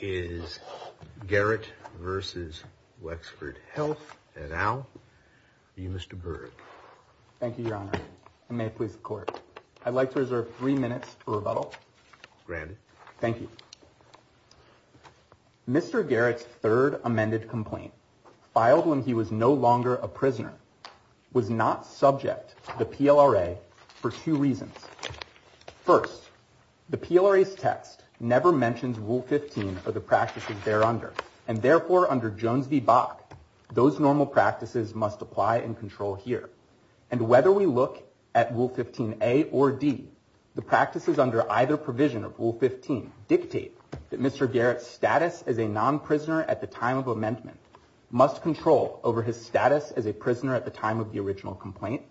is Garrett versus Wexford Health and now you Mr. Berg. Thank you your honor and may it please the court. I'd like to reserve three minutes for rebuttal. Granted. Thank you. Mr. Garrett's third amended complaint filed when he was no longer a prisoner was not subject to the PLRA for two reasons. First, the PLRA's Rule 15 or the practices there under and therefore under Jones v. Bach, those normal practices must apply and control here. And whether we look at Rule 15a or d, the practices under either provision of Rule 15 dictate that Mr. Garrett's status as a non-prisoner at the time of amendment must control over his status as a prisoner at the time of the original complaint.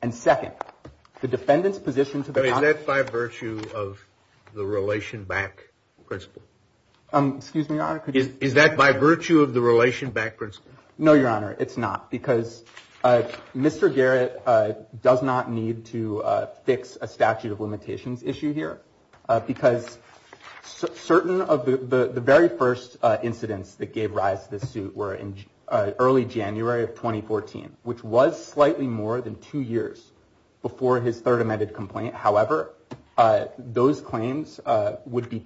And second, the Excuse me your honor. Is that by virtue of the relation back principle? No your honor, it's not because Mr. Garrett does not need to fix a statute of limitations issue here because certain of the very first incidents that gave rise to this suit were in early January of 2014, which was slightly more than two years before his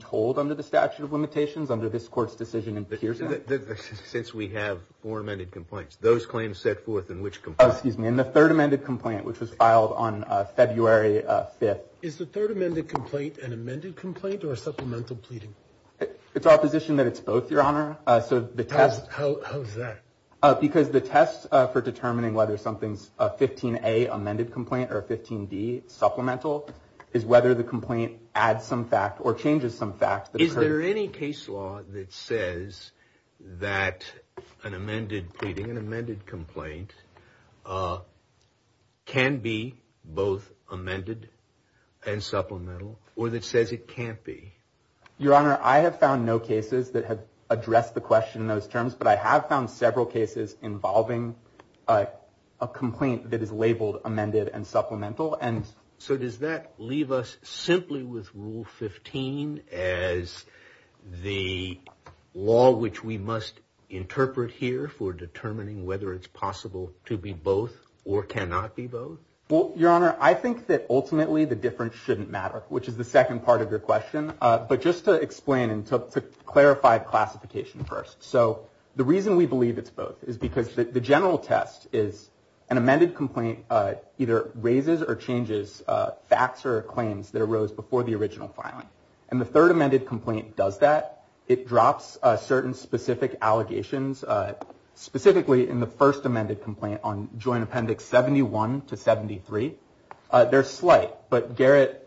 told under the statute of limitations under this court's decision in Pearson. Since we have four amended complaints, those claims set forth in which complaint? In the third amended complaint, which was filed on February 5th. Is the third amended complaint an amended complaint or a supplemental pleading? It's our position that it's both your honor. How is that? Because the test for determining whether something's a 15a amended complaint or a 15d supplemental is whether the complaint adds some fact or changes some facts. Is there any case law that says that an amended pleading, an amended complaint can be both amended and supplemental or that says it can't be? Your honor, I have found no cases that have addressed the question in those terms, but I have found several cases involving a complaint that is labeled amended and supplemental. And so does that leave us simply with Rule 15 as the law which we must interpret here for determining whether it's possible to be both or cannot be both? Well, your honor, I think that ultimately the difference shouldn't matter, which is the second part of your question. But just to explain and to clarify classification first. So the reason we believe it's both is because the general test is an amendment to the facts or claims that arose before the original filing. And the third amended complaint does that. It drops certain specific allegations, specifically in the first amended complaint on Joint Appendix 71 to 73. They're slight, but Garrett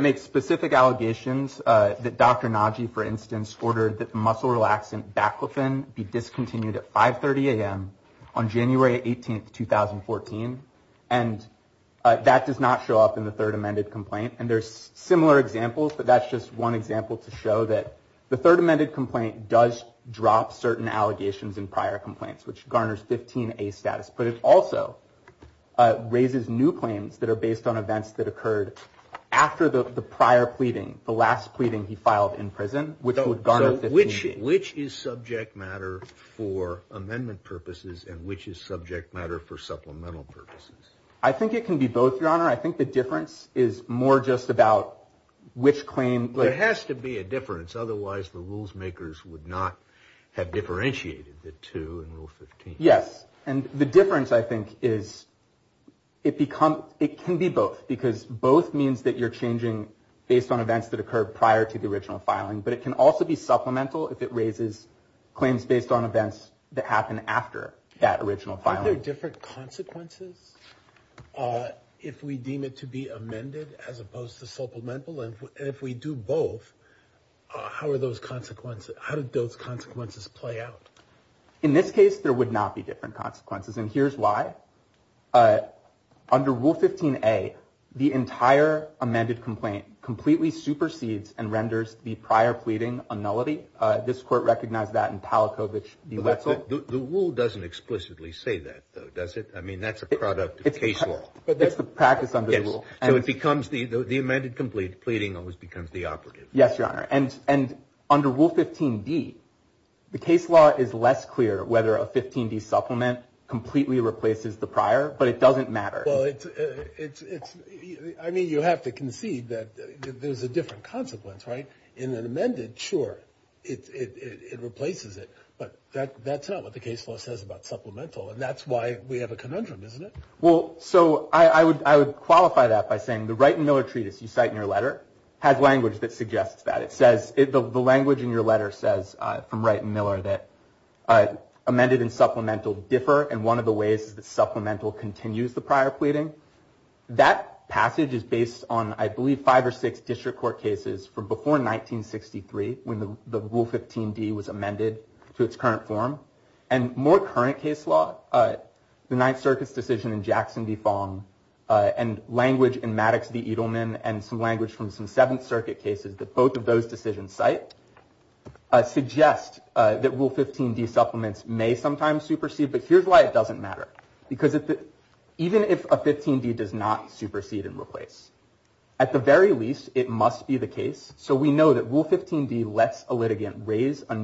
makes specific allegations that Dr. Nagy, for instance, ordered that muscle relaxant Baclofen be discontinued at 530 a.m. on similar examples, but that's just one example to show that the third amended complaint does drop certain allegations in prior complaints, which garners 15a status. But it also raises new claims that are based on events that occurred after the prior pleading, the last pleading he filed in prison, which would garner 15a. So which is subject matter for amendment purposes and which is subject matter for supplemental purposes? I think it can be both, your honor. I think the question is more just about which claim... There has to be a difference, otherwise the rules makers would not have differentiated the two in Rule 15. Yes. And the difference, I think, is it can be both because both means that you're changing based on events that occurred prior to the original filing, but it can also be supplemental if it raises claims based on events that happen after that original filing. Are there different consequences if we deem it to be amended as opposed to supplemental? And if we do both, how are those consequences, how did those consequences play out? In this case, there would not be different consequences, and here's why. Under Rule 15a, the entire amended complaint completely supersedes and renders the prior pleading a nullity. This court recognized that in Palachowicz v. Wetzel. The rule doesn't explicitly say that, though, does it? I mean, that's a product of case law. But it's the practice under the rule. So it becomes the amended complete pleading always becomes the operative. Yes, Your Honor. And under Rule 15d, the case law is less clear whether a 15d supplement completely replaces the prior, but it doesn't matter. Well, I mean, you have to concede that there's a different consequence, right? In an amended, sure, it replaces it, but that's not what the case law says about supplemental, and that's why we have a conundrum, isn't it? Well, so I would qualify that by saying the Wright and Miller treatise you cite in your letter has language that suggests that. It says, the language in your letter says, from Wright and Miller, that amended and supplemental differ, and one of the ways that supplemental continues the prior pleading. That passage is based on, I believe, five or six district court cases from before 1963, when the Rule 15d was amended to its current form. And more current case law, the Ninth Circuit's decision in Jackson v. Fong, and language in Maddox v. Edelman, and some language from some Seventh Circuit cases that both of those decisions cite, suggest that Rule 15d supplements may sometimes supersede, but here's why it doesn't matter. Because even if a 15d does not supersede and replace, at the very least, it must be the case. So we know that Rule 15d lets a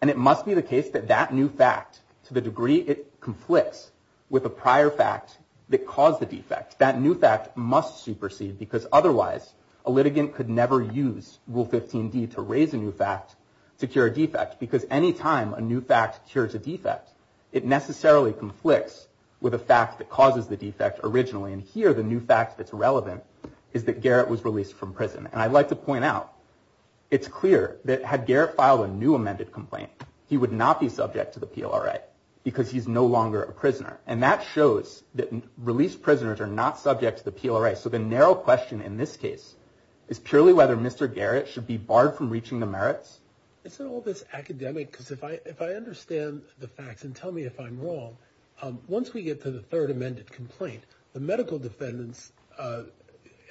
And it must be the case that that new fact, to the degree it conflicts with a prior fact that caused the defect, that new fact must supersede. Because otherwise, a litigant could never use Rule 15d to raise a new fact to cure a defect. Because any time a new fact cures a defect, it necessarily conflicts with a fact that causes the defect originally. And here, the new fact that's relevant is that Garrett was released from prison. And I'd like to point out, it's clear that had Garrett filed a new amended complaint, he would not be subject to the PLRA, because he's no longer a prisoner. And that shows that released prisoners are not subject to the PLRA. So the narrow question in this case is purely whether Mr. Garrett should be barred from reaching the merits. It's all this academic, because if I understand the facts, and tell me if I'm wrong, once we get to the third amended complaint, the medical defendants,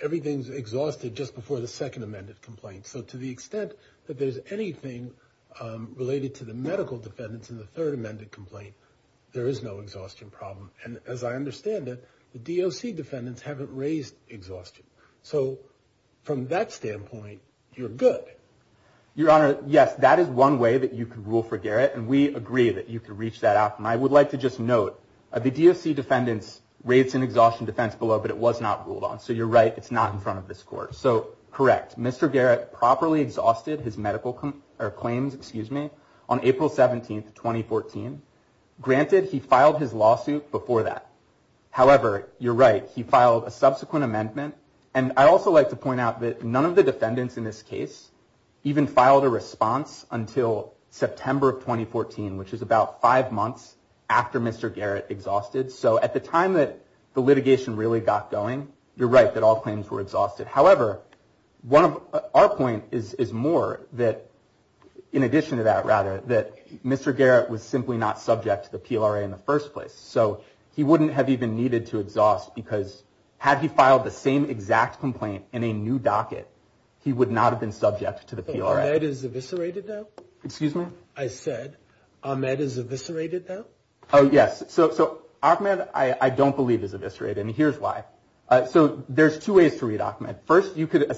everything's exhausted just before the second amended complaint. So to the extent that there's anything related to the medical defendants in the third amended complaint, there is no exhaustion problem. And as I understand it, the DOC defendants haven't raised exhaustion. So from that standpoint, you're good. Your Honor, yes, that is one way that you can rule for Garrett. And we agree that you can reach that out. And I would like to just note, the DOC defendants raised an exhaustion defense below, but it was not ruled on. So you're right, it's not in front of this court. So correct, Mr. Garrett properly exhausted his medical claims on April 17, 2014. Granted, he filed his lawsuit before that. However, you're right, he filed a subsequent amendment. And I'd also like to point out that none of the defendants in this case even filed a response until September of 2014, which is about five months after Mr. Garrett exhausted. So at the time that the litigation really got going, you're right that, in addition to that, rather, that Mr. Garrett was simply not subject to the PLRA in the first place. So he wouldn't have even needed to exhaust because had he filed the same exact complaint in a new docket, he would not have been subject to the PLRA. Ahmed is eviscerated though? Excuse me? I said, Ahmed is eviscerated though? Oh, yes. So Ahmed, I don't believe is eviscerated. And here's why. So there's two ways to read Ahmed. First, you could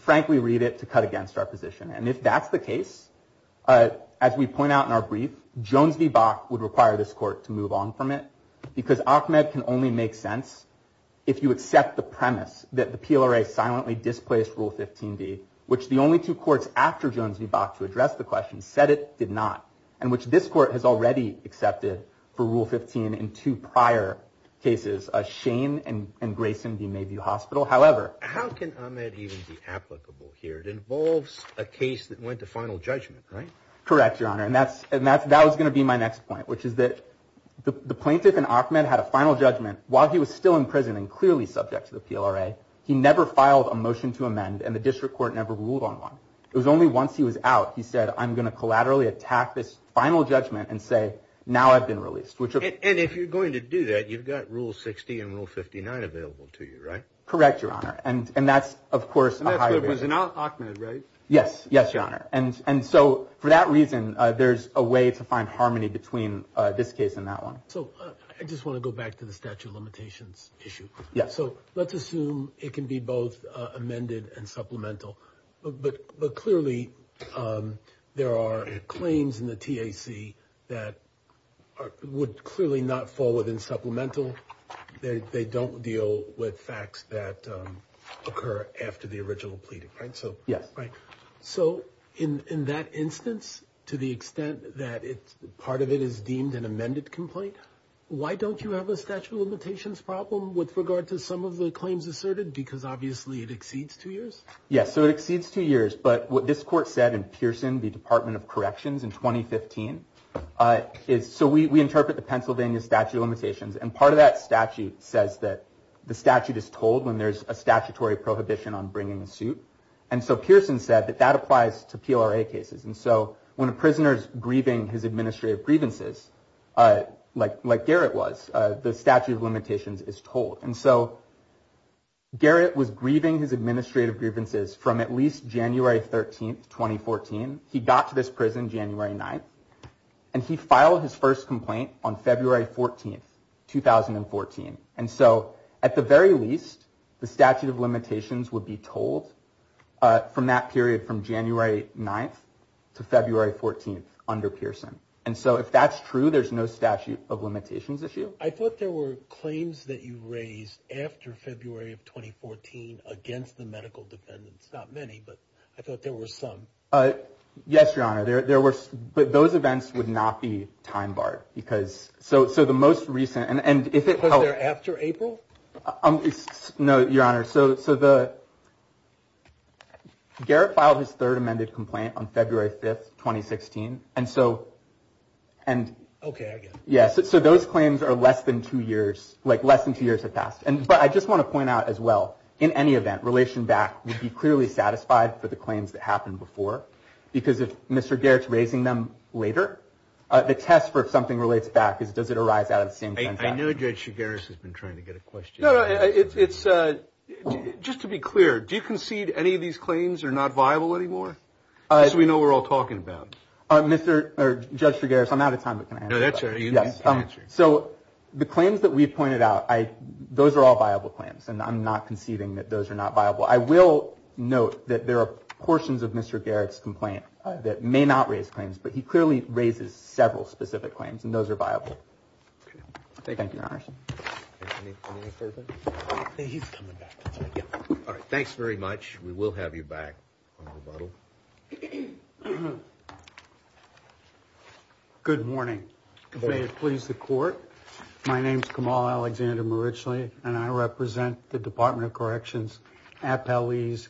frankly read it to cut against our position. And if that's the case, as we point out in our brief, Jones v. Bach would require this court to move on from it. Because Ahmed can only make sense if you accept the premise that the PLRA silently displaced Rule 15d, which the only two courts after Jones v. Bach to address the question said it did not, and which this court has already accepted for Rule 15 in two prior cases, Shane and Grayson v. Mayview Hospital. However... That can't even be applicable here. It involves a case that went to final judgment, right? Correct, Your Honor. And that was going to be my next point, which is that the plaintiff in Ahmed had a final judgment while he was still in prison and clearly subject to the PLRA. He never filed a motion to amend and the district court never ruled on one. It was only once he was out, he said, I'm going to collaterally attack this final judgment and say, now I've been released. And if you're going to do that, you've got Rule 60 and Rule 59 available to you, right? Correct, Your Honor. And that's, of course... And that's what it was in Ahmed, right? Yes. Yes, Your Honor. And so for that reason, there's a way to find harmony between this case and that one. So I just want to go back to the statute of limitations issue. So let's assume it can be both amended and supplemental. But clearly, there are claims in the TAC that would clearly not fall within supplemental. They don't deal with facts that occur after the original pleading, right? So in that instance, to the extent that part of it is deemed an amended complaint, why don't you have a statute of limitations problem with regard to some of the claims asserted? Because obviously it exceeds two years. Yes, so it exceeds two years. But what this court said in Pearson, the is... So we interpret the Pennsylvania statute of limitations, and part of that statute says that the statute is told when there's a statutory prohibition on bringing a suit. And so Pearson said that that applies to PLRA cases. And so when a prisoner is grieving his administrative grievances, like Garrett was, the statute of limitations is told. And so Garrett was grieving his administrative grievances from at least January 13th, 2014. He got to this prison January 9th, and he filed his first complaint on February 14th, 2014. And so at the very least, the statute of limitations would be told from that period from January 9th to February 14th under Pearson. And so if that's true, there's no statute of limitations issue. I thought there were claims that you raised after February of 2014 against the I thought there were some. Yes, Your Honor, there were. But those events would not be time barred because so so the most recent and if it was there after April. No, Your Honor. So so the. Garrett filed his third amended complaint on February 5th, 2016, and so. And OK, yes, so those claims are less than two years, like less than two years have passed. And but I just want to point out as well, in any event, relation back would be clearly satisfied for the claims that happened before, because if Mr. Garrett's raising them later, the test for if something relates back is does it arise out of the same thing? I know Judge Chigaris has been trying to get a question. No, it's just to be clear, do you concede any of these claims are not viable anymore? As we know, we're all talking about Mr. or Judge Chigaris. I'm out of time, but that's right. So the claims that we pointed out, I those are all viable claims and I'm not conceding that those are not viable. I will note that there are portions of Mr. Garrett's complaint that may not raise claims, but he clearly raises several specific claims and those are viable. Thank you, Your Honor. He's coming back. All right. Thanks very much. We will have you back on rebuttal. Good morning. Please, the court. My name's Kamal Alexander Marichli and I represent the Department of Corrections, Appellees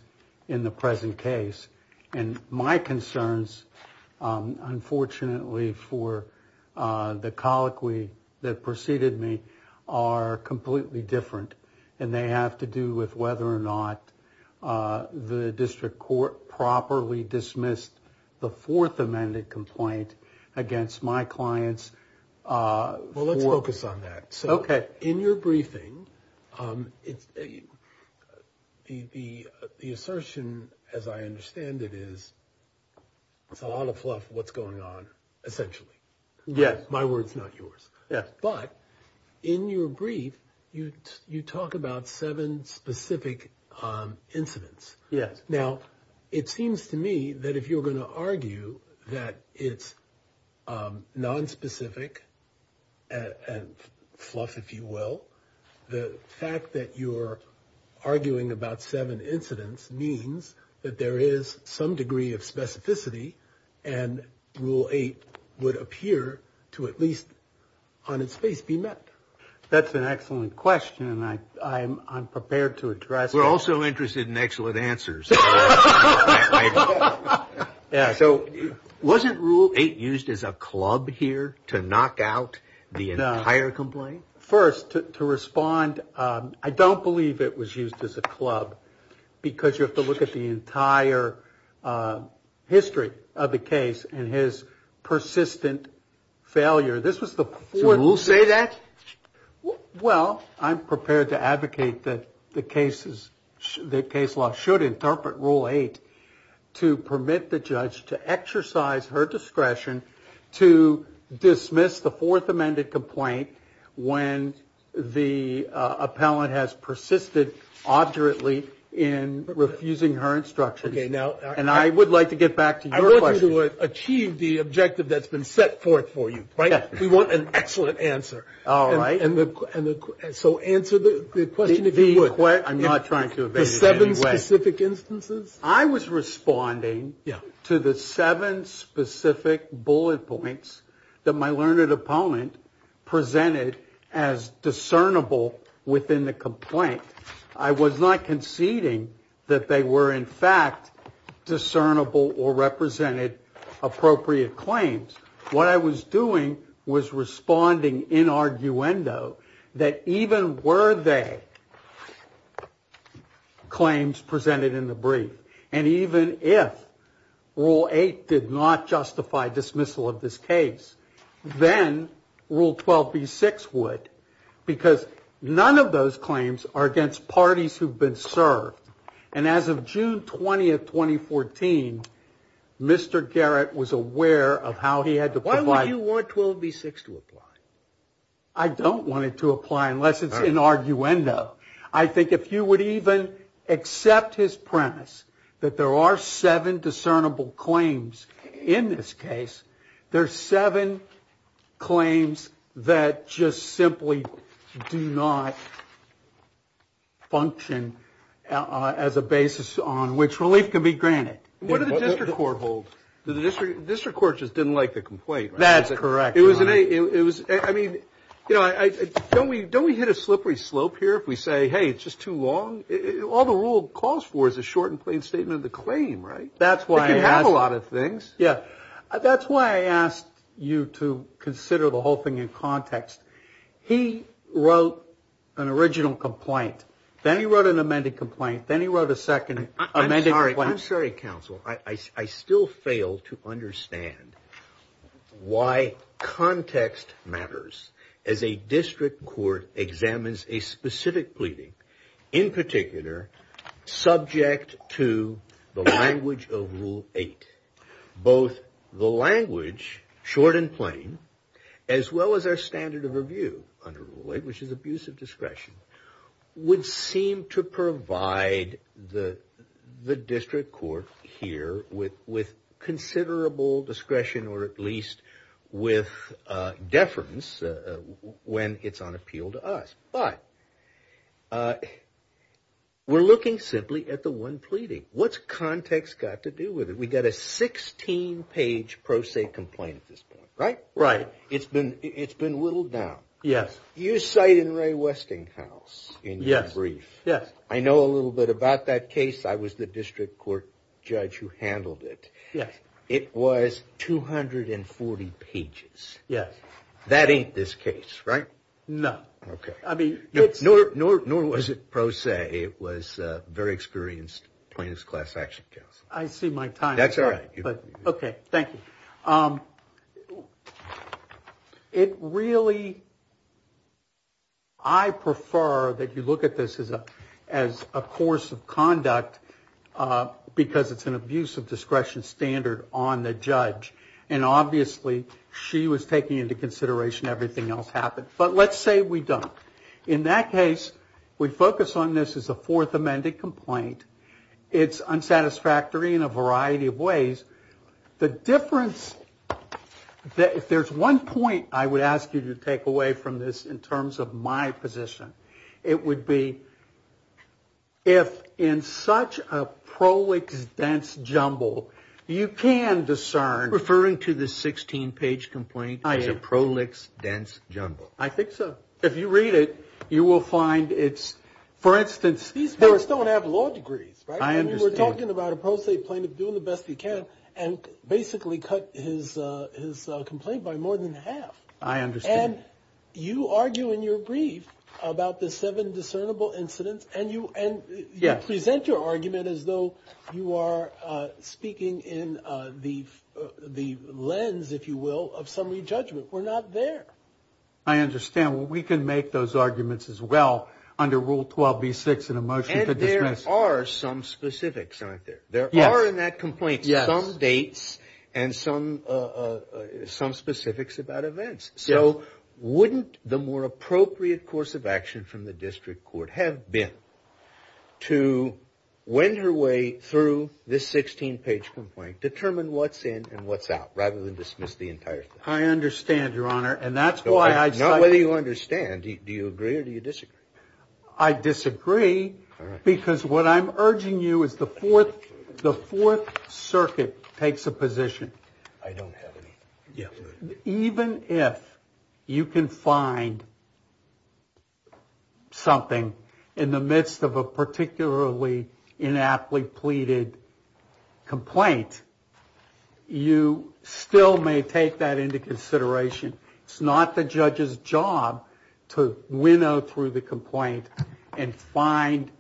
in the present case. And my concerns, unfortunately for the colloquy that preceded me, are completely different. And they have to do with whether or not the district court properly dismissed the fourth amended complaint against my clients. Well, let's focus on that. So in your briefing, the assertion, as I understand it, is it's a lot of fluff what's going on, essentially. Yes. My word's not yours. Yes. But in your brief, you talk about seven specific incidents. Yes. Now, it seems to me that if you're going to argue that it's nonspecific and fluff, if you will, the fact that you're arguing about seven incidents means that there is some degree of specificity and Rule 8 would appear to at least on its face be met. That's an excellent question. And I'm prepared to address it. We're also interested in excellent answers. So wasn't Rule 8 used as a club here to knock out the entire complaint? First, to respond, I don't believe it was used as a club because you have to look at the entire history of the case and his persistent failure. This was the fourth. So Rule say that? Well, I'm prepared to advocate that the case law should interpret Rule 8 to permit the judge to exercise her discretion to dismiss the fourth amended complaint when the appellant has persisted arduously in refusing her instructions. And I would like to get back to your question. I want you to achieve the objective that's been set forth for you, right? We want an excellent answer. All right. And so answer the question if you would. I'm not trying to evade it in any way. The seven specific instances? I was responding to the seven specific bullet points that my learned opponent presented as discernible within the complaint. I was not conceding that they were, in fact, discernible or represented appropriate claims. What I was doing was responding in arguendo that even were they claims presented in the brief and even if Rule 8 did not justify dismissal of this case, then Rule 12B6 would because none of those claims are against parties who've been served. And as of June 20th, 2014, Mr. Garrett was aware of how he had to provide. Why would you want 12B6 to apply? I don't want it to apply unless it's in arguendo. I think if you would even accept his premise that there are seven discernible claims in this case, there's seven claims that just simply do not function as a basis on which relief can be granted. What did the district court hold? The district court just didn't like the complaint. That's correct. It was, I mean, you know, don't we hit a slippery slope here if we say, hey, it's just too long? All the rule calls for is a short and plain statement of the claim, right? That's why I have a lot of things. Yeah, that's why I asked you to consider the whole thing in context. He wrote an original complaint. Then he wrote an amended complaint. Then he wrote a second amended complaint. I'm sorry, counsel. I still fail to understand why context matters as a district court examines a specific pleading, in particular, subject to the language of rule eight. Both the language, short and plain, as well as our standard of review under use of discretion would seem to provide the district court here with considerable discretion, or at least with deference when it's on appeal to us. But we're looking simply at the one pleading. What's context got to do with it? We got a 16 page pro se complaint at this point, right? Right. It's been whittled down. Yes. You cite in Ray Westinghouse in your brief. Yes. I know a little bit about that case. I was the district court judge who handled it. Yes. It was 240 pages. Yes. That ain't this case, right? No. Okay. I mean, it's... Nor was it pro se. It was a very experienced plaintiff's class action, counsel. I see my time. That's all right. Okay. Thank you. It really... I prefer that you look at this as a course of conduct because it's an abuse of discretion standard on the judge. And obviously she was taking into consideration everything else happened. But let's say we don't. In that case, we focus on this as a fourth amended complaint. It's unsatisfactory in a variety of ways. The difference that... If there's one point I would ask you to take away from this in terms of my position, it would be if in such a prolix dense jumble, you can discern... Referring to the 16-page complaint as a prolix dense jumble. I think so. If you read it, you will find it's, for instance... These plaintiffs don't have law degrees, right? I understand. He's talking about a pro se plaintiff doing the best he can and basically cut his complaint by more than half. I understand. And you argue in your brief about the seven discernible incidents and you present your argument as though you are speaking in the lens, if you will, of summary judgment. We're not there. I understand. Well, we can make those arguments as well under Rule 12b-6 in a motion to dismiss. There are some specifics, aren't there? There are in that complaint some dates and some specifics about events. So wouldn't the more appropriate course of action from the district court have been to wend her way through this 16-page complaint, determine what's in and what's out, rather than dismiss the entire thing? I understand, Your Honor. And that's why I... Not whether you understand. Do you agree or do you disagree? I disagree because what I'm urging you is the Fourth Circuit takes a position. I don't have any. Even if you can find something in the midst of a particularly inaptly pleaded complaint, you still may take that into consideration. It's not the judge's job to winnow through the complaint and find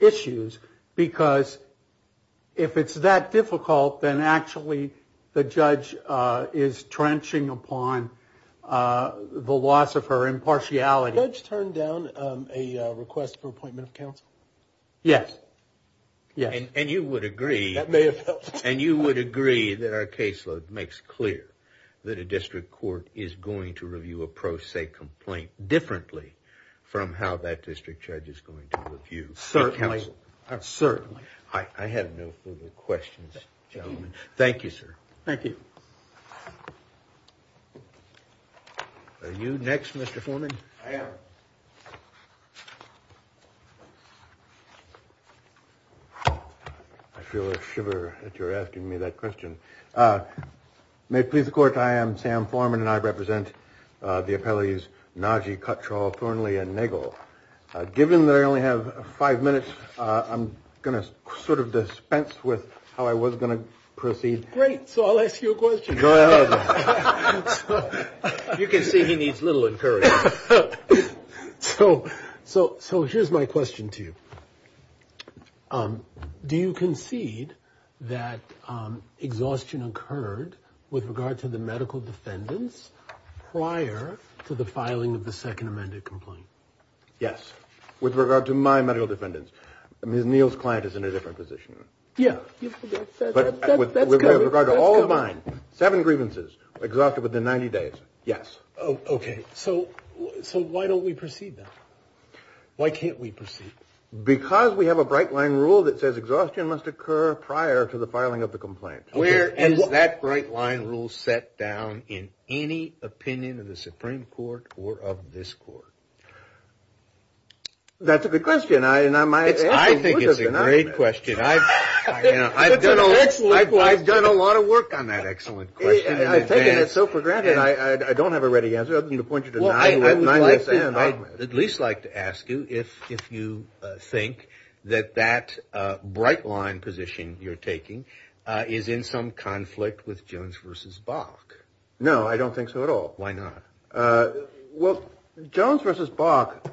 issues because if it's that difficult, then actually the judge is trenching upon the loss of her impartiality. Did the judge turn down a request for appointment of counsel? Yes, yes. And you would agree... That may have helped. And you would agree that our caseload makes clear that a district court is going to review a pro se complaint differently from how that district judge is going to review counsel? Certainly, certainly. I have no further questions, gentlemen. Thank you, sir. Thank you. Are you next, Mr. Foreman? I am. I feel a shiver that you're asking me that question. May it please the court, I am Sam Foreman and I represent the appellees Najee, Cuttrall, Thornley, and Nagel. Given that I only have five minutes, I'm going to sort of dispense with how I was going to proceed. Great. So I'll ask you a question. You can see he needs little encouragement. So here's my question to you. Do you concede that exhaustion occurred with regard to the medical defendants prior to the filing of the second amended complaint? Yes. With regard to my medical defendants, Ms. Neal's client is in a different position. Yeah. With regard to all of mine, seven grievances, exhausted within 90 days. Yes. Okay. So why don't we proceed then? Why can't we proceed? Because we have a bright line rule that says exhaustion must occur prior to the filing of the complaint. Where is that bright line rule set down in any opinion of the Supreme Court or of this court? That's a good question. I think it's a great question. I've done a lot of work on that excellent question. I've taken it so for granted, I don't have a ready answer other than to point you to nine. Well, I would at least like to ask you if you think that that bright line position you're taking is in some conflict with Jones versus Bach. No, I don't think so at all. Why not? Well, Jones versus Bach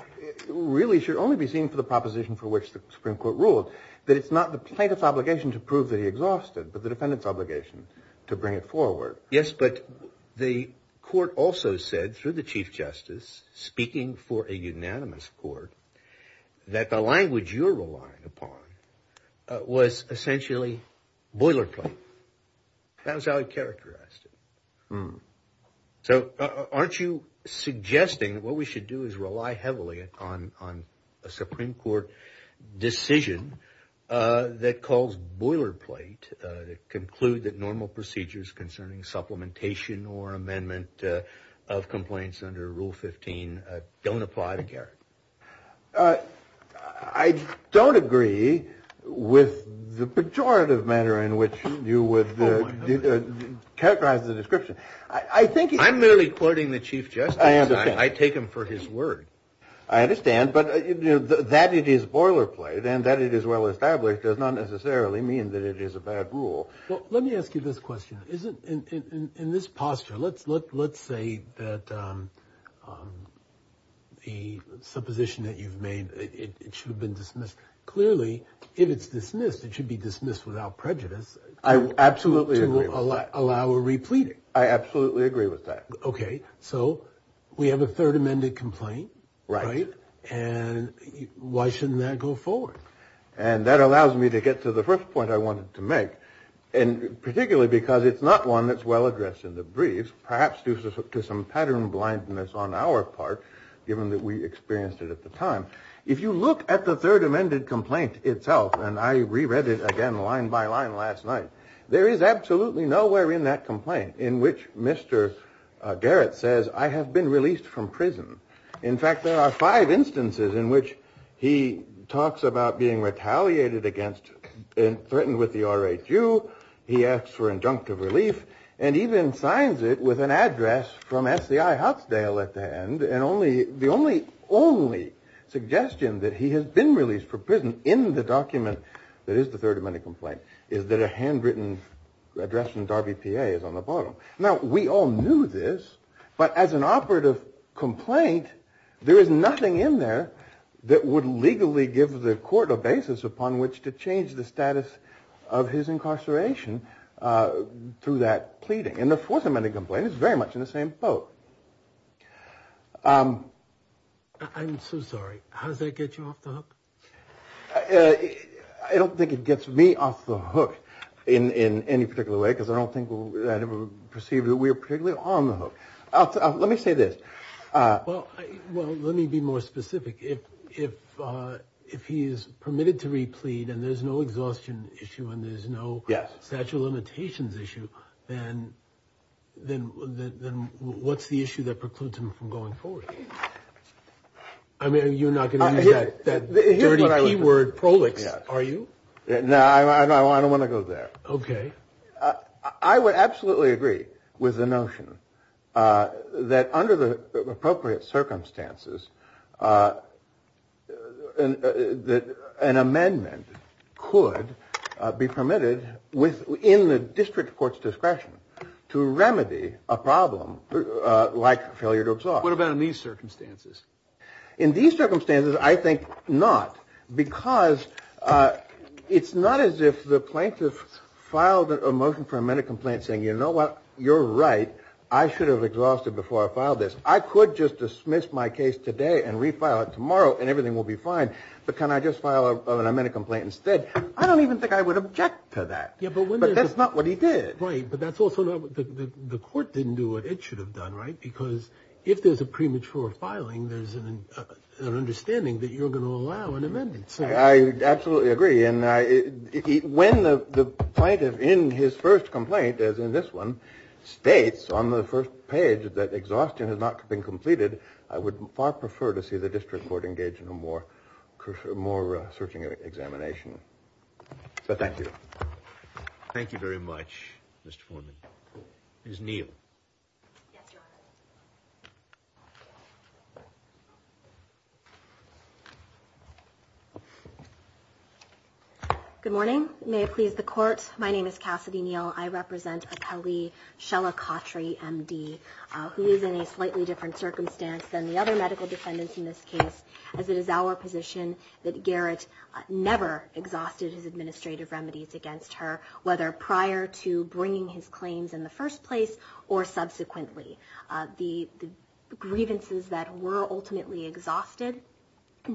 really should only be seen for the proposition for which the Supreme Court ruled that it's not the plaintiff's obligation to prove that he exhausted, but the defendant's obligation to bring it forward. Yes, but the court also said through the Chief Justice speaking for a unanimous court that the language you're relying upon was essentially boilerplate. That was how he characterized it. So aren't you suggesting that what we should do is rely heavily on a Supreme Court decision that calls boilerplate to conclude that normal procedures concerning supplementation or amendment of complaints under Rule 15 don't apply to Garrett? I don't agree with the pejorative manner in which you would characterize the description. I'm merely quoting the Chief Justice. I take him for his word. I understand. But that it is boilerplate and that it is well-established does not necessarily mean that it is a bad rule. Well, let me ask you this question. In this posture, let's say that the supposition that you've made, it should have been dismissed. Clearly, if it's dismissed, it should be dismissed without prejudice. I absolutely agree with that. Allow a replete. I absolutely agree with that. OK. So we have a third amended complaint. Right. And why shouldn't that go forward? And that allows me to get to the first point I wanted to make. And particularly because it's not one that's well addressed in the brief, perhaps due to some pattern blindness on our part, given that we experienced it at the time. If you look at the third amended complaint itself, and I reread it again line by line last night, there is absolutely nowhere in that complaint in which Mr. Garrett says, I have been released from prison. In fact, there are five instances in which he talks about being retaliated against and threatened with the R.H.U., he asks for injunctive relief, and even signs it with an address from S.E.I. Huxdale at the end. And the only suggestion that he has been released from prison in the document that is the third amended complaint is that a handwritten address from Darby P.A. is on the bottom. Now, we all knew this, but as an operative complaint, there is nothing in there that would legally give the court a basis upon which to change the status of his incarceration through that pleading. And the fourth amended complaint is very much in the same boat. I'm so sorry. How does that get you off the hook? I don't think it gets me off the hook in any particular way, because I don't think I've perceived that we are particularly on the hook. Let me say this. Well, let me be more specific. If he is permitted to replead and there's no exhaustion issue and there's no statute of limitations issue, then what's the issue that precludes him from going forward? I mean, you're not going to use that dirty P word, prolix, are you? No, I don't want to go there. OK. I would absolutely agree with the notion that under the appropriate circumstances, an amendment could be permitted within the district court's discretion to remedy a problem like failure to absorb. What about in these circumstances? In these circumstances, I think not, because it's not as if the plaintiff filed a motion for amendment complaint saying, you know what? You're right. I should have exhausted before I filed this. I could just dismiss my case today and refile it tomorrow and everything will be fine. But can I just file an amendment complaint instead? I don't even think I would object to that. But that's not what he did. Right. But that's also not what the court didn't do what it should have done. Right. Because if there's a premature filing, there's an understanding that you're going to allow an amendment. I absolutely agree. And when the plaintiff in his first complaint, as in this one, states on the first page that exhaustion has not been completed, I would far prefer to see the district court engage in a more searching examination. So thank you. Thank you very much, Mr. Foreman. Ms. Neal. Yes, Your Honor. Good morning. May it please the court. My name is Cassidy Neal. I represent Akeli Shellacotri, M.D., who is in a slightly different circumstance than the other medical defendants in this case, as it is our position that Garrett never exhausted his administrative remedies against her, whether prior to bringing his claims in the first place or subsequently. The grievances that were ultimately exhausted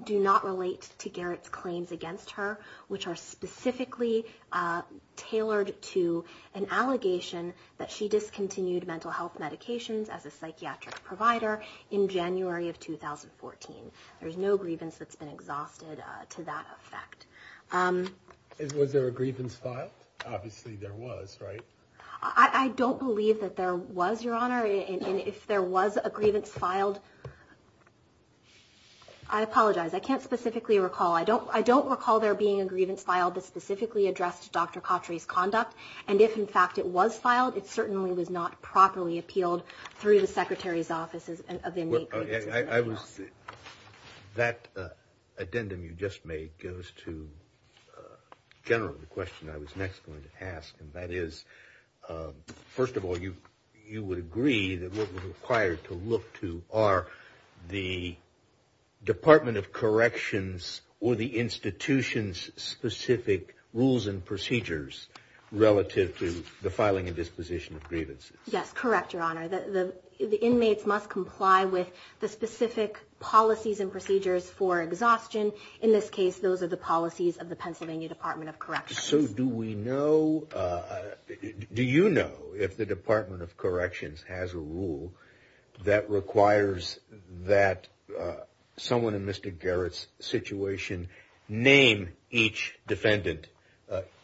do not relate to Garrett's claims against her, which are specifically tailored to an allegation that she discontinued mental health medications as a psychiatric provider in January of 2014. There's no grievance that's been exhausted to that effect. Was there a grievance filed? Obviously there was, right? I don't believe that there was, Your Honor. And if there was a grievance filed, I apologize. I can't specifically recall. I don't recall there being a grievance filed that specifically addressed Dr. Cotri's conduct. And if, in fact, it was filed, it certainly was not properly appealed through the Secretary's Office of Inmate Grievances. That addendum you just made goes to generally the question I was next going to ask, and that is, first of all, you would agree that what we're required to look to are the Department of Corrections or the institution's specific rules and procedures relative to the filing and disposition of grievances? Yes, correct, Your Honor. The inmates must comply with the specific policies and procedures for exhaustion. In this case, those are the policies of the Pennsylvania Department of Corrections. So do we know, do you know if the Department of Corrections has a rule that requires that someone in Mr. Garrett's situation name each defendant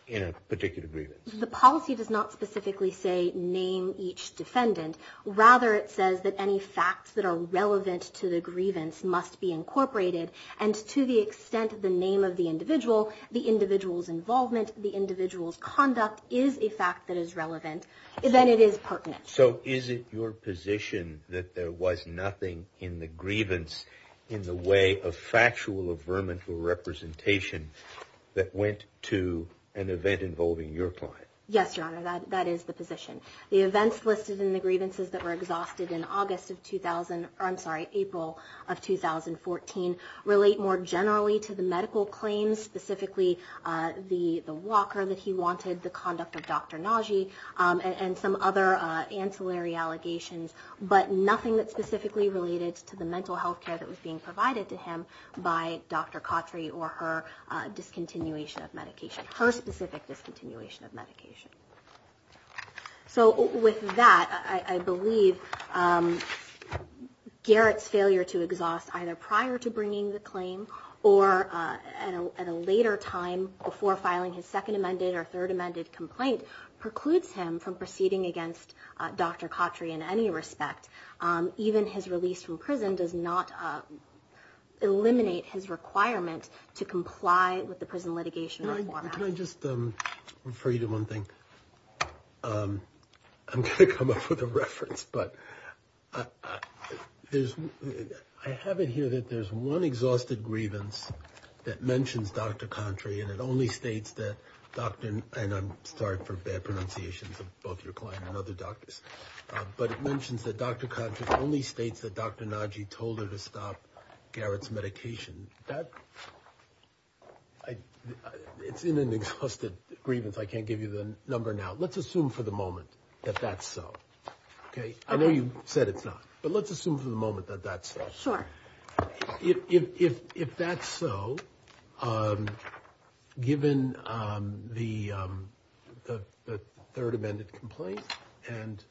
in a particular grievance? The policy does not specifically say name each defendant. Rather, it says that any facts that are relevant to the grievance must be incorporated. And to the extent of the name of the individual, the individual's involvement, the individual's conduct is a fact that is relevant, then it is pertinent. So is it your position that there was nothing in the grievance in the way of factual or vermin for representation that went to an event involving your client? Yes, Your Honor, that is the position. The events listed in the grievances that were exhausted in August of 2000, I'm sorry, April of 2014 relate more generally to the medical claims, specifically the walker that he wanted, the conduct of Dr. Nagy, and some other ancillary allegations. But nothing that specifically related to the mental health care that was being provided to him by Dr. Khatri or her discontinuation of medication, her specific discontinuation of medication. So with that, I believe Garrett's failure to exhaust either prior to bringing the claim or at a later time before filing his second amended or third amended complaint precludes him from proceeding against Dr. Khatri in any respect. Even his release from prison does not eliminate his requirement to comply with the prison litigation reform act. Can I just refer you to one thing? I have it here that there's one exhausted grievance that mentions Dr. Khatri and it only states that Dr., and I'm sorry for bad pronunciations of both your client and other doctors, but it mentions that Dr. Khatri only states that Dr. Nagy told her to stop Garrett's medication. It's in an exhausted grievance. I can't give you the number now. Let's assume for the moment that that's so. Okay. I know you said it's not, but let's assume for the moment that that's so. Sure. If that's so, given the third amended complaint and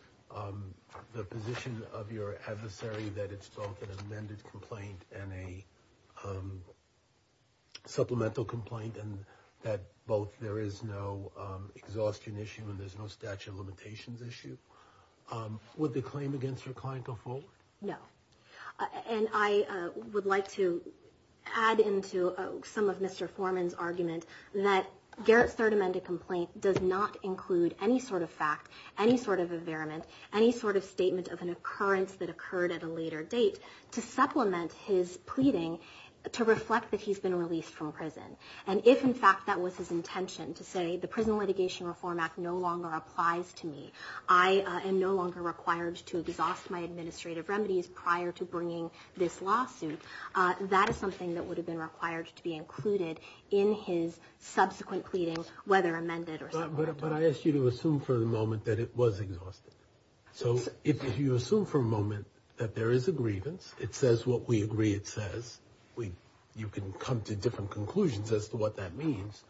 the position of your adversary that it's both an amended complaint and a supplemental complaint and that both there is no exhaustion issue and there's no statute of limitations issue, would the claim against your client go forward? No. And I would like to add into some of Mr. Foreman's argument that Garrett's third amended complaint does not include any sort of fact, any sort of a variament, any sort of statement of an occurrence that occurred at a later date to supplement his pleading to reflect that he's been released from prison. And if in fact that was his intention to say the Prison Litigation Reform Act no longer applies to me, I am no longer required to exhaust my administrative remedies prior to bringing this lawsuit. That is something that would have been required to be included in his subsequent pleading, whether amended or supplemental. But I asked you to assume for the moment that it was exhausted. So if you assume for a moment that there is a grievance, it says what we agree it says, you can come to different conclusions as to what that means.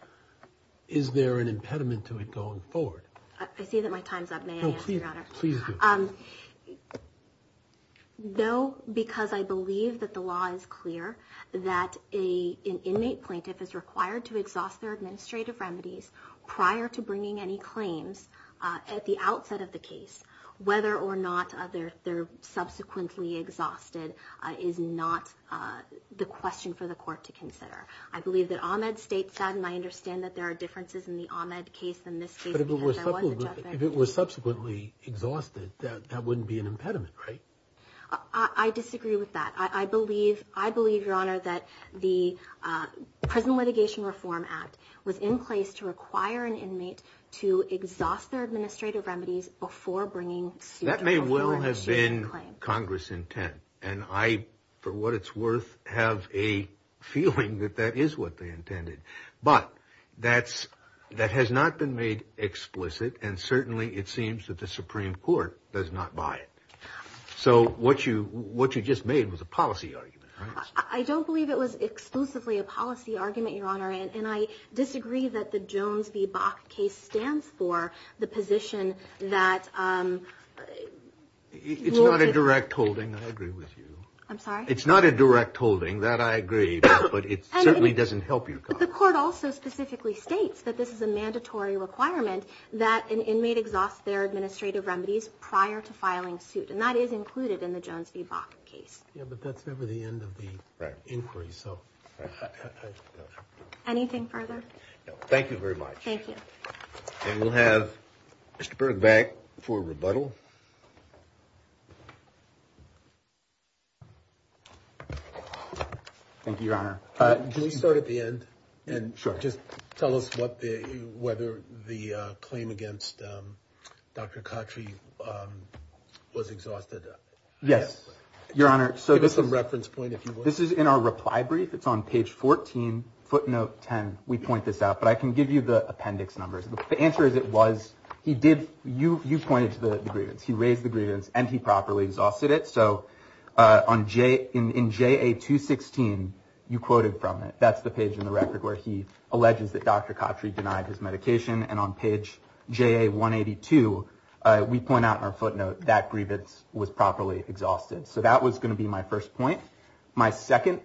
Is there an impediment to it going forward? I see that my time's up. May I answer, Your Honor? Please do. Though, because I believe that the law is clear that an inmate plaintiff is required to exhaust their administrative remedies prior to bringing any claims at the outset of the question for the court to consider. I believe that Ahmed states that, and I understand that there are differences in the Ahmed case than this case. But if it were subsequently exhausted, that wouldn't be an impediment, right? I disagree with that. I believe, I believe, Your Honor, that the Prison Litigation Reform Act was in place to require an inmate to exhaust their administrative remedies before bringing suit. That may well have been Congress intent. And I, for what it's worth, have a feeling that that is what they intended. But that's, that has not been made explicit. And certainly it seems that the Supreme Court does not buy it. So what you, what you just made was a policy argument, right? I don't believe it was exclusively a policy argument, Your Honor. And I disagree that the Jones v. Bach case stands for the position that... It's not a direct holding. I agree with you. I'm sorry? It's not a direct holding. That I agree, but it certainly doesn't help you. But the court also specifically states that this is a mandatory requirement that an inmate exhaust their administrative remedies prior to filing suit. And that is included in the Jones v. Bach case. Yeah, but that's never the end of the inquiry, so... Anything further? Thank you very much. Thank you. And we'll have Mr. Berg back for rebuttal. Thank you, Your Honor. Can we start at the end? And just tell us what the, whether the claim against Dr. Cottrey was exhausted? Yes, Your Honor. So this is... Give us some reference point, if you will. This is in our reply brief. It's on page 14, footnote 10. We point this out, but I can give you the appendix numbers. The answer is it was, he did, you, you pointed to the grievance. He raised the grievance and he properly exhausted it. On, in JA 216, you quoted from it. That's the page in the record where he alleges that Dr. Cottrey denied his medication. And on page JA 182, we point out in our footnote that grievance was properly exhausted. So that was going to be my first point. My second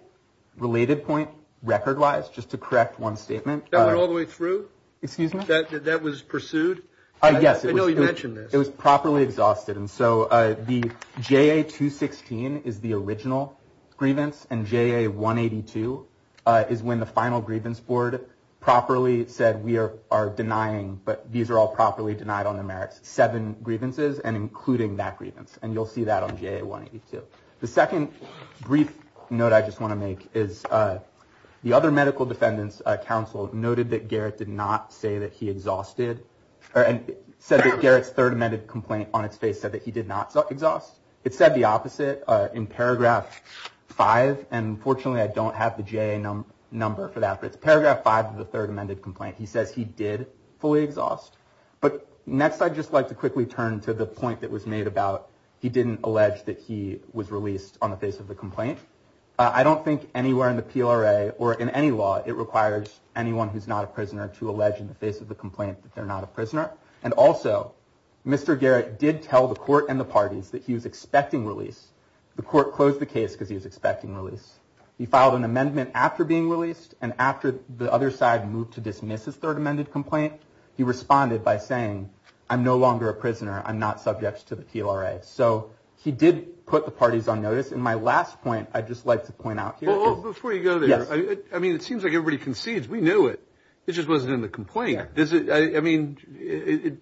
related point, record-wise, just to correct one statement... That went all the way through? Excuse me? That was pursued? Yes. I know you mentioned this. It was properly exhausted. And so the JA 216 is the original grievance. And JA 182 is when the final grievance board properly said, we are denying, but these are all properly denied on the merits, seven grievances and including that grievance. And you'll see that on JA 182. The second brief note I just want to make is, the other medical defendant's counsel noted that Garrett did not say that he exhausted, and said that Garrett's third amended complaint on its face said that he did not exhaust. It said the opposite in paragraph five. And fortunately, I don't have the JA number for that. But it's paragraph five of the third amended complaint. He says he did fully exhaust. But next, I'd just like to quickly turn to the point that was made about he didn't allege that he was released on the face of the complaint. I don't think anywhere in the PLRA or in any law, that they're not a prisoner. And also, Mr. Garrett did tell the court and the parties that he was expecting release. The court closed the case because he was expecting release. He filed an amendment after being released. And after the other side moved to dismiss his third amended complaint, he responded by saying, I'm no longer a prisoner. I'm not subject to the PLRA. So he did put the parties on notice. And my last point, I'd just like to point out here. Well, before you go there, I mean, it seems like everybody concedes. We knew it. It just wasn't in the complaint. I mean,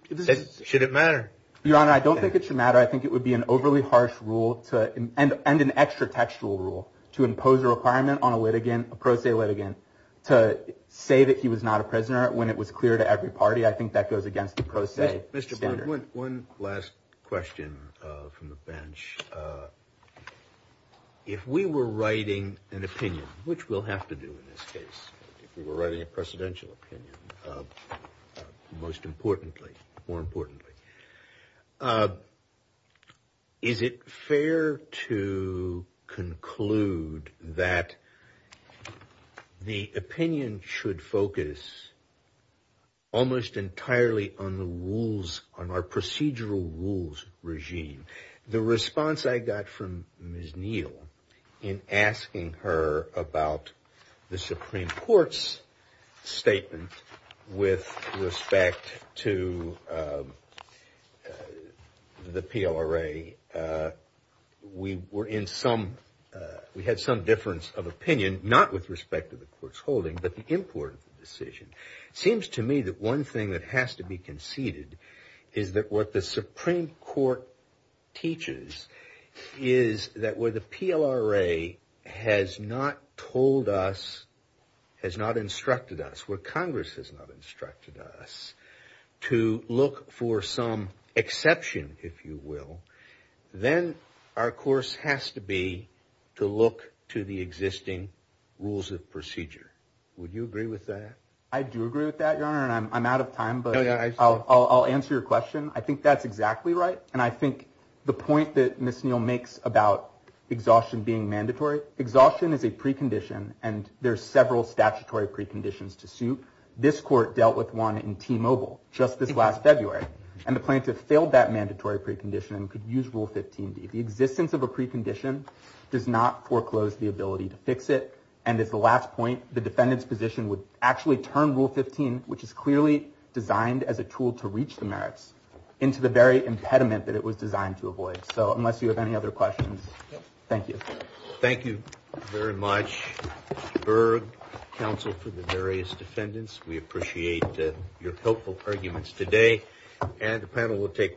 should it matter? Your Honor, I don't think it should matter. I think it would be an overly harsh rule to end an extra textual rule to impose a requirement on a litigant, a pro se litigant, to say that he was not a prisoner when it was clear to every party. I think that goes against the pro se standard. One last question from the bench. If we were writing an opinion, which we'll have to do in this case, if we were writing a precedential opinion, most importantly, more importantly, is it fair to conclude that the opinion should focus almost entirely on the rules, on our procedural rules regime? The response I got from Ms. Neal in asking her about the Supreme Court's statement with respect to the PLRA, we had some difference of opinion, not with respect to the court's holding, but the import of the decision. It seems to me that one thing that has to be conceded is that what the Supreme Court teaches is that where the PLRA has not told us, has not instructed us, where Congress has not instructed us to look for some exception, if you will, then our course has to be to look to the existing rules of procedure. Would you agree with that? I do agree with that, Your Honor, and I'm out of time, but I'll answer your question. I think that's exactly right. And I think the point that Ms. Neal makes about exhaustion being mandatory, exhaustion is a precondition, and there's several statutory preconditions to suit. This court dealt with one in T-Mobile just this last February, and the plaintiff failed that mandatory precondition and could use Rule 15d. The existence of a precondition does not foreclose the ability to fix it. And as the last point, the defendant's position would actually turn Rule 15, which is clearly designed as a tool to reach the merits, into the very impediment that it was designed to avoid. So unless you have any other questions, thank you. Thank you very much, Berg, counsel for the various defendants. We appreciate your helpful arguments today. And the panel will take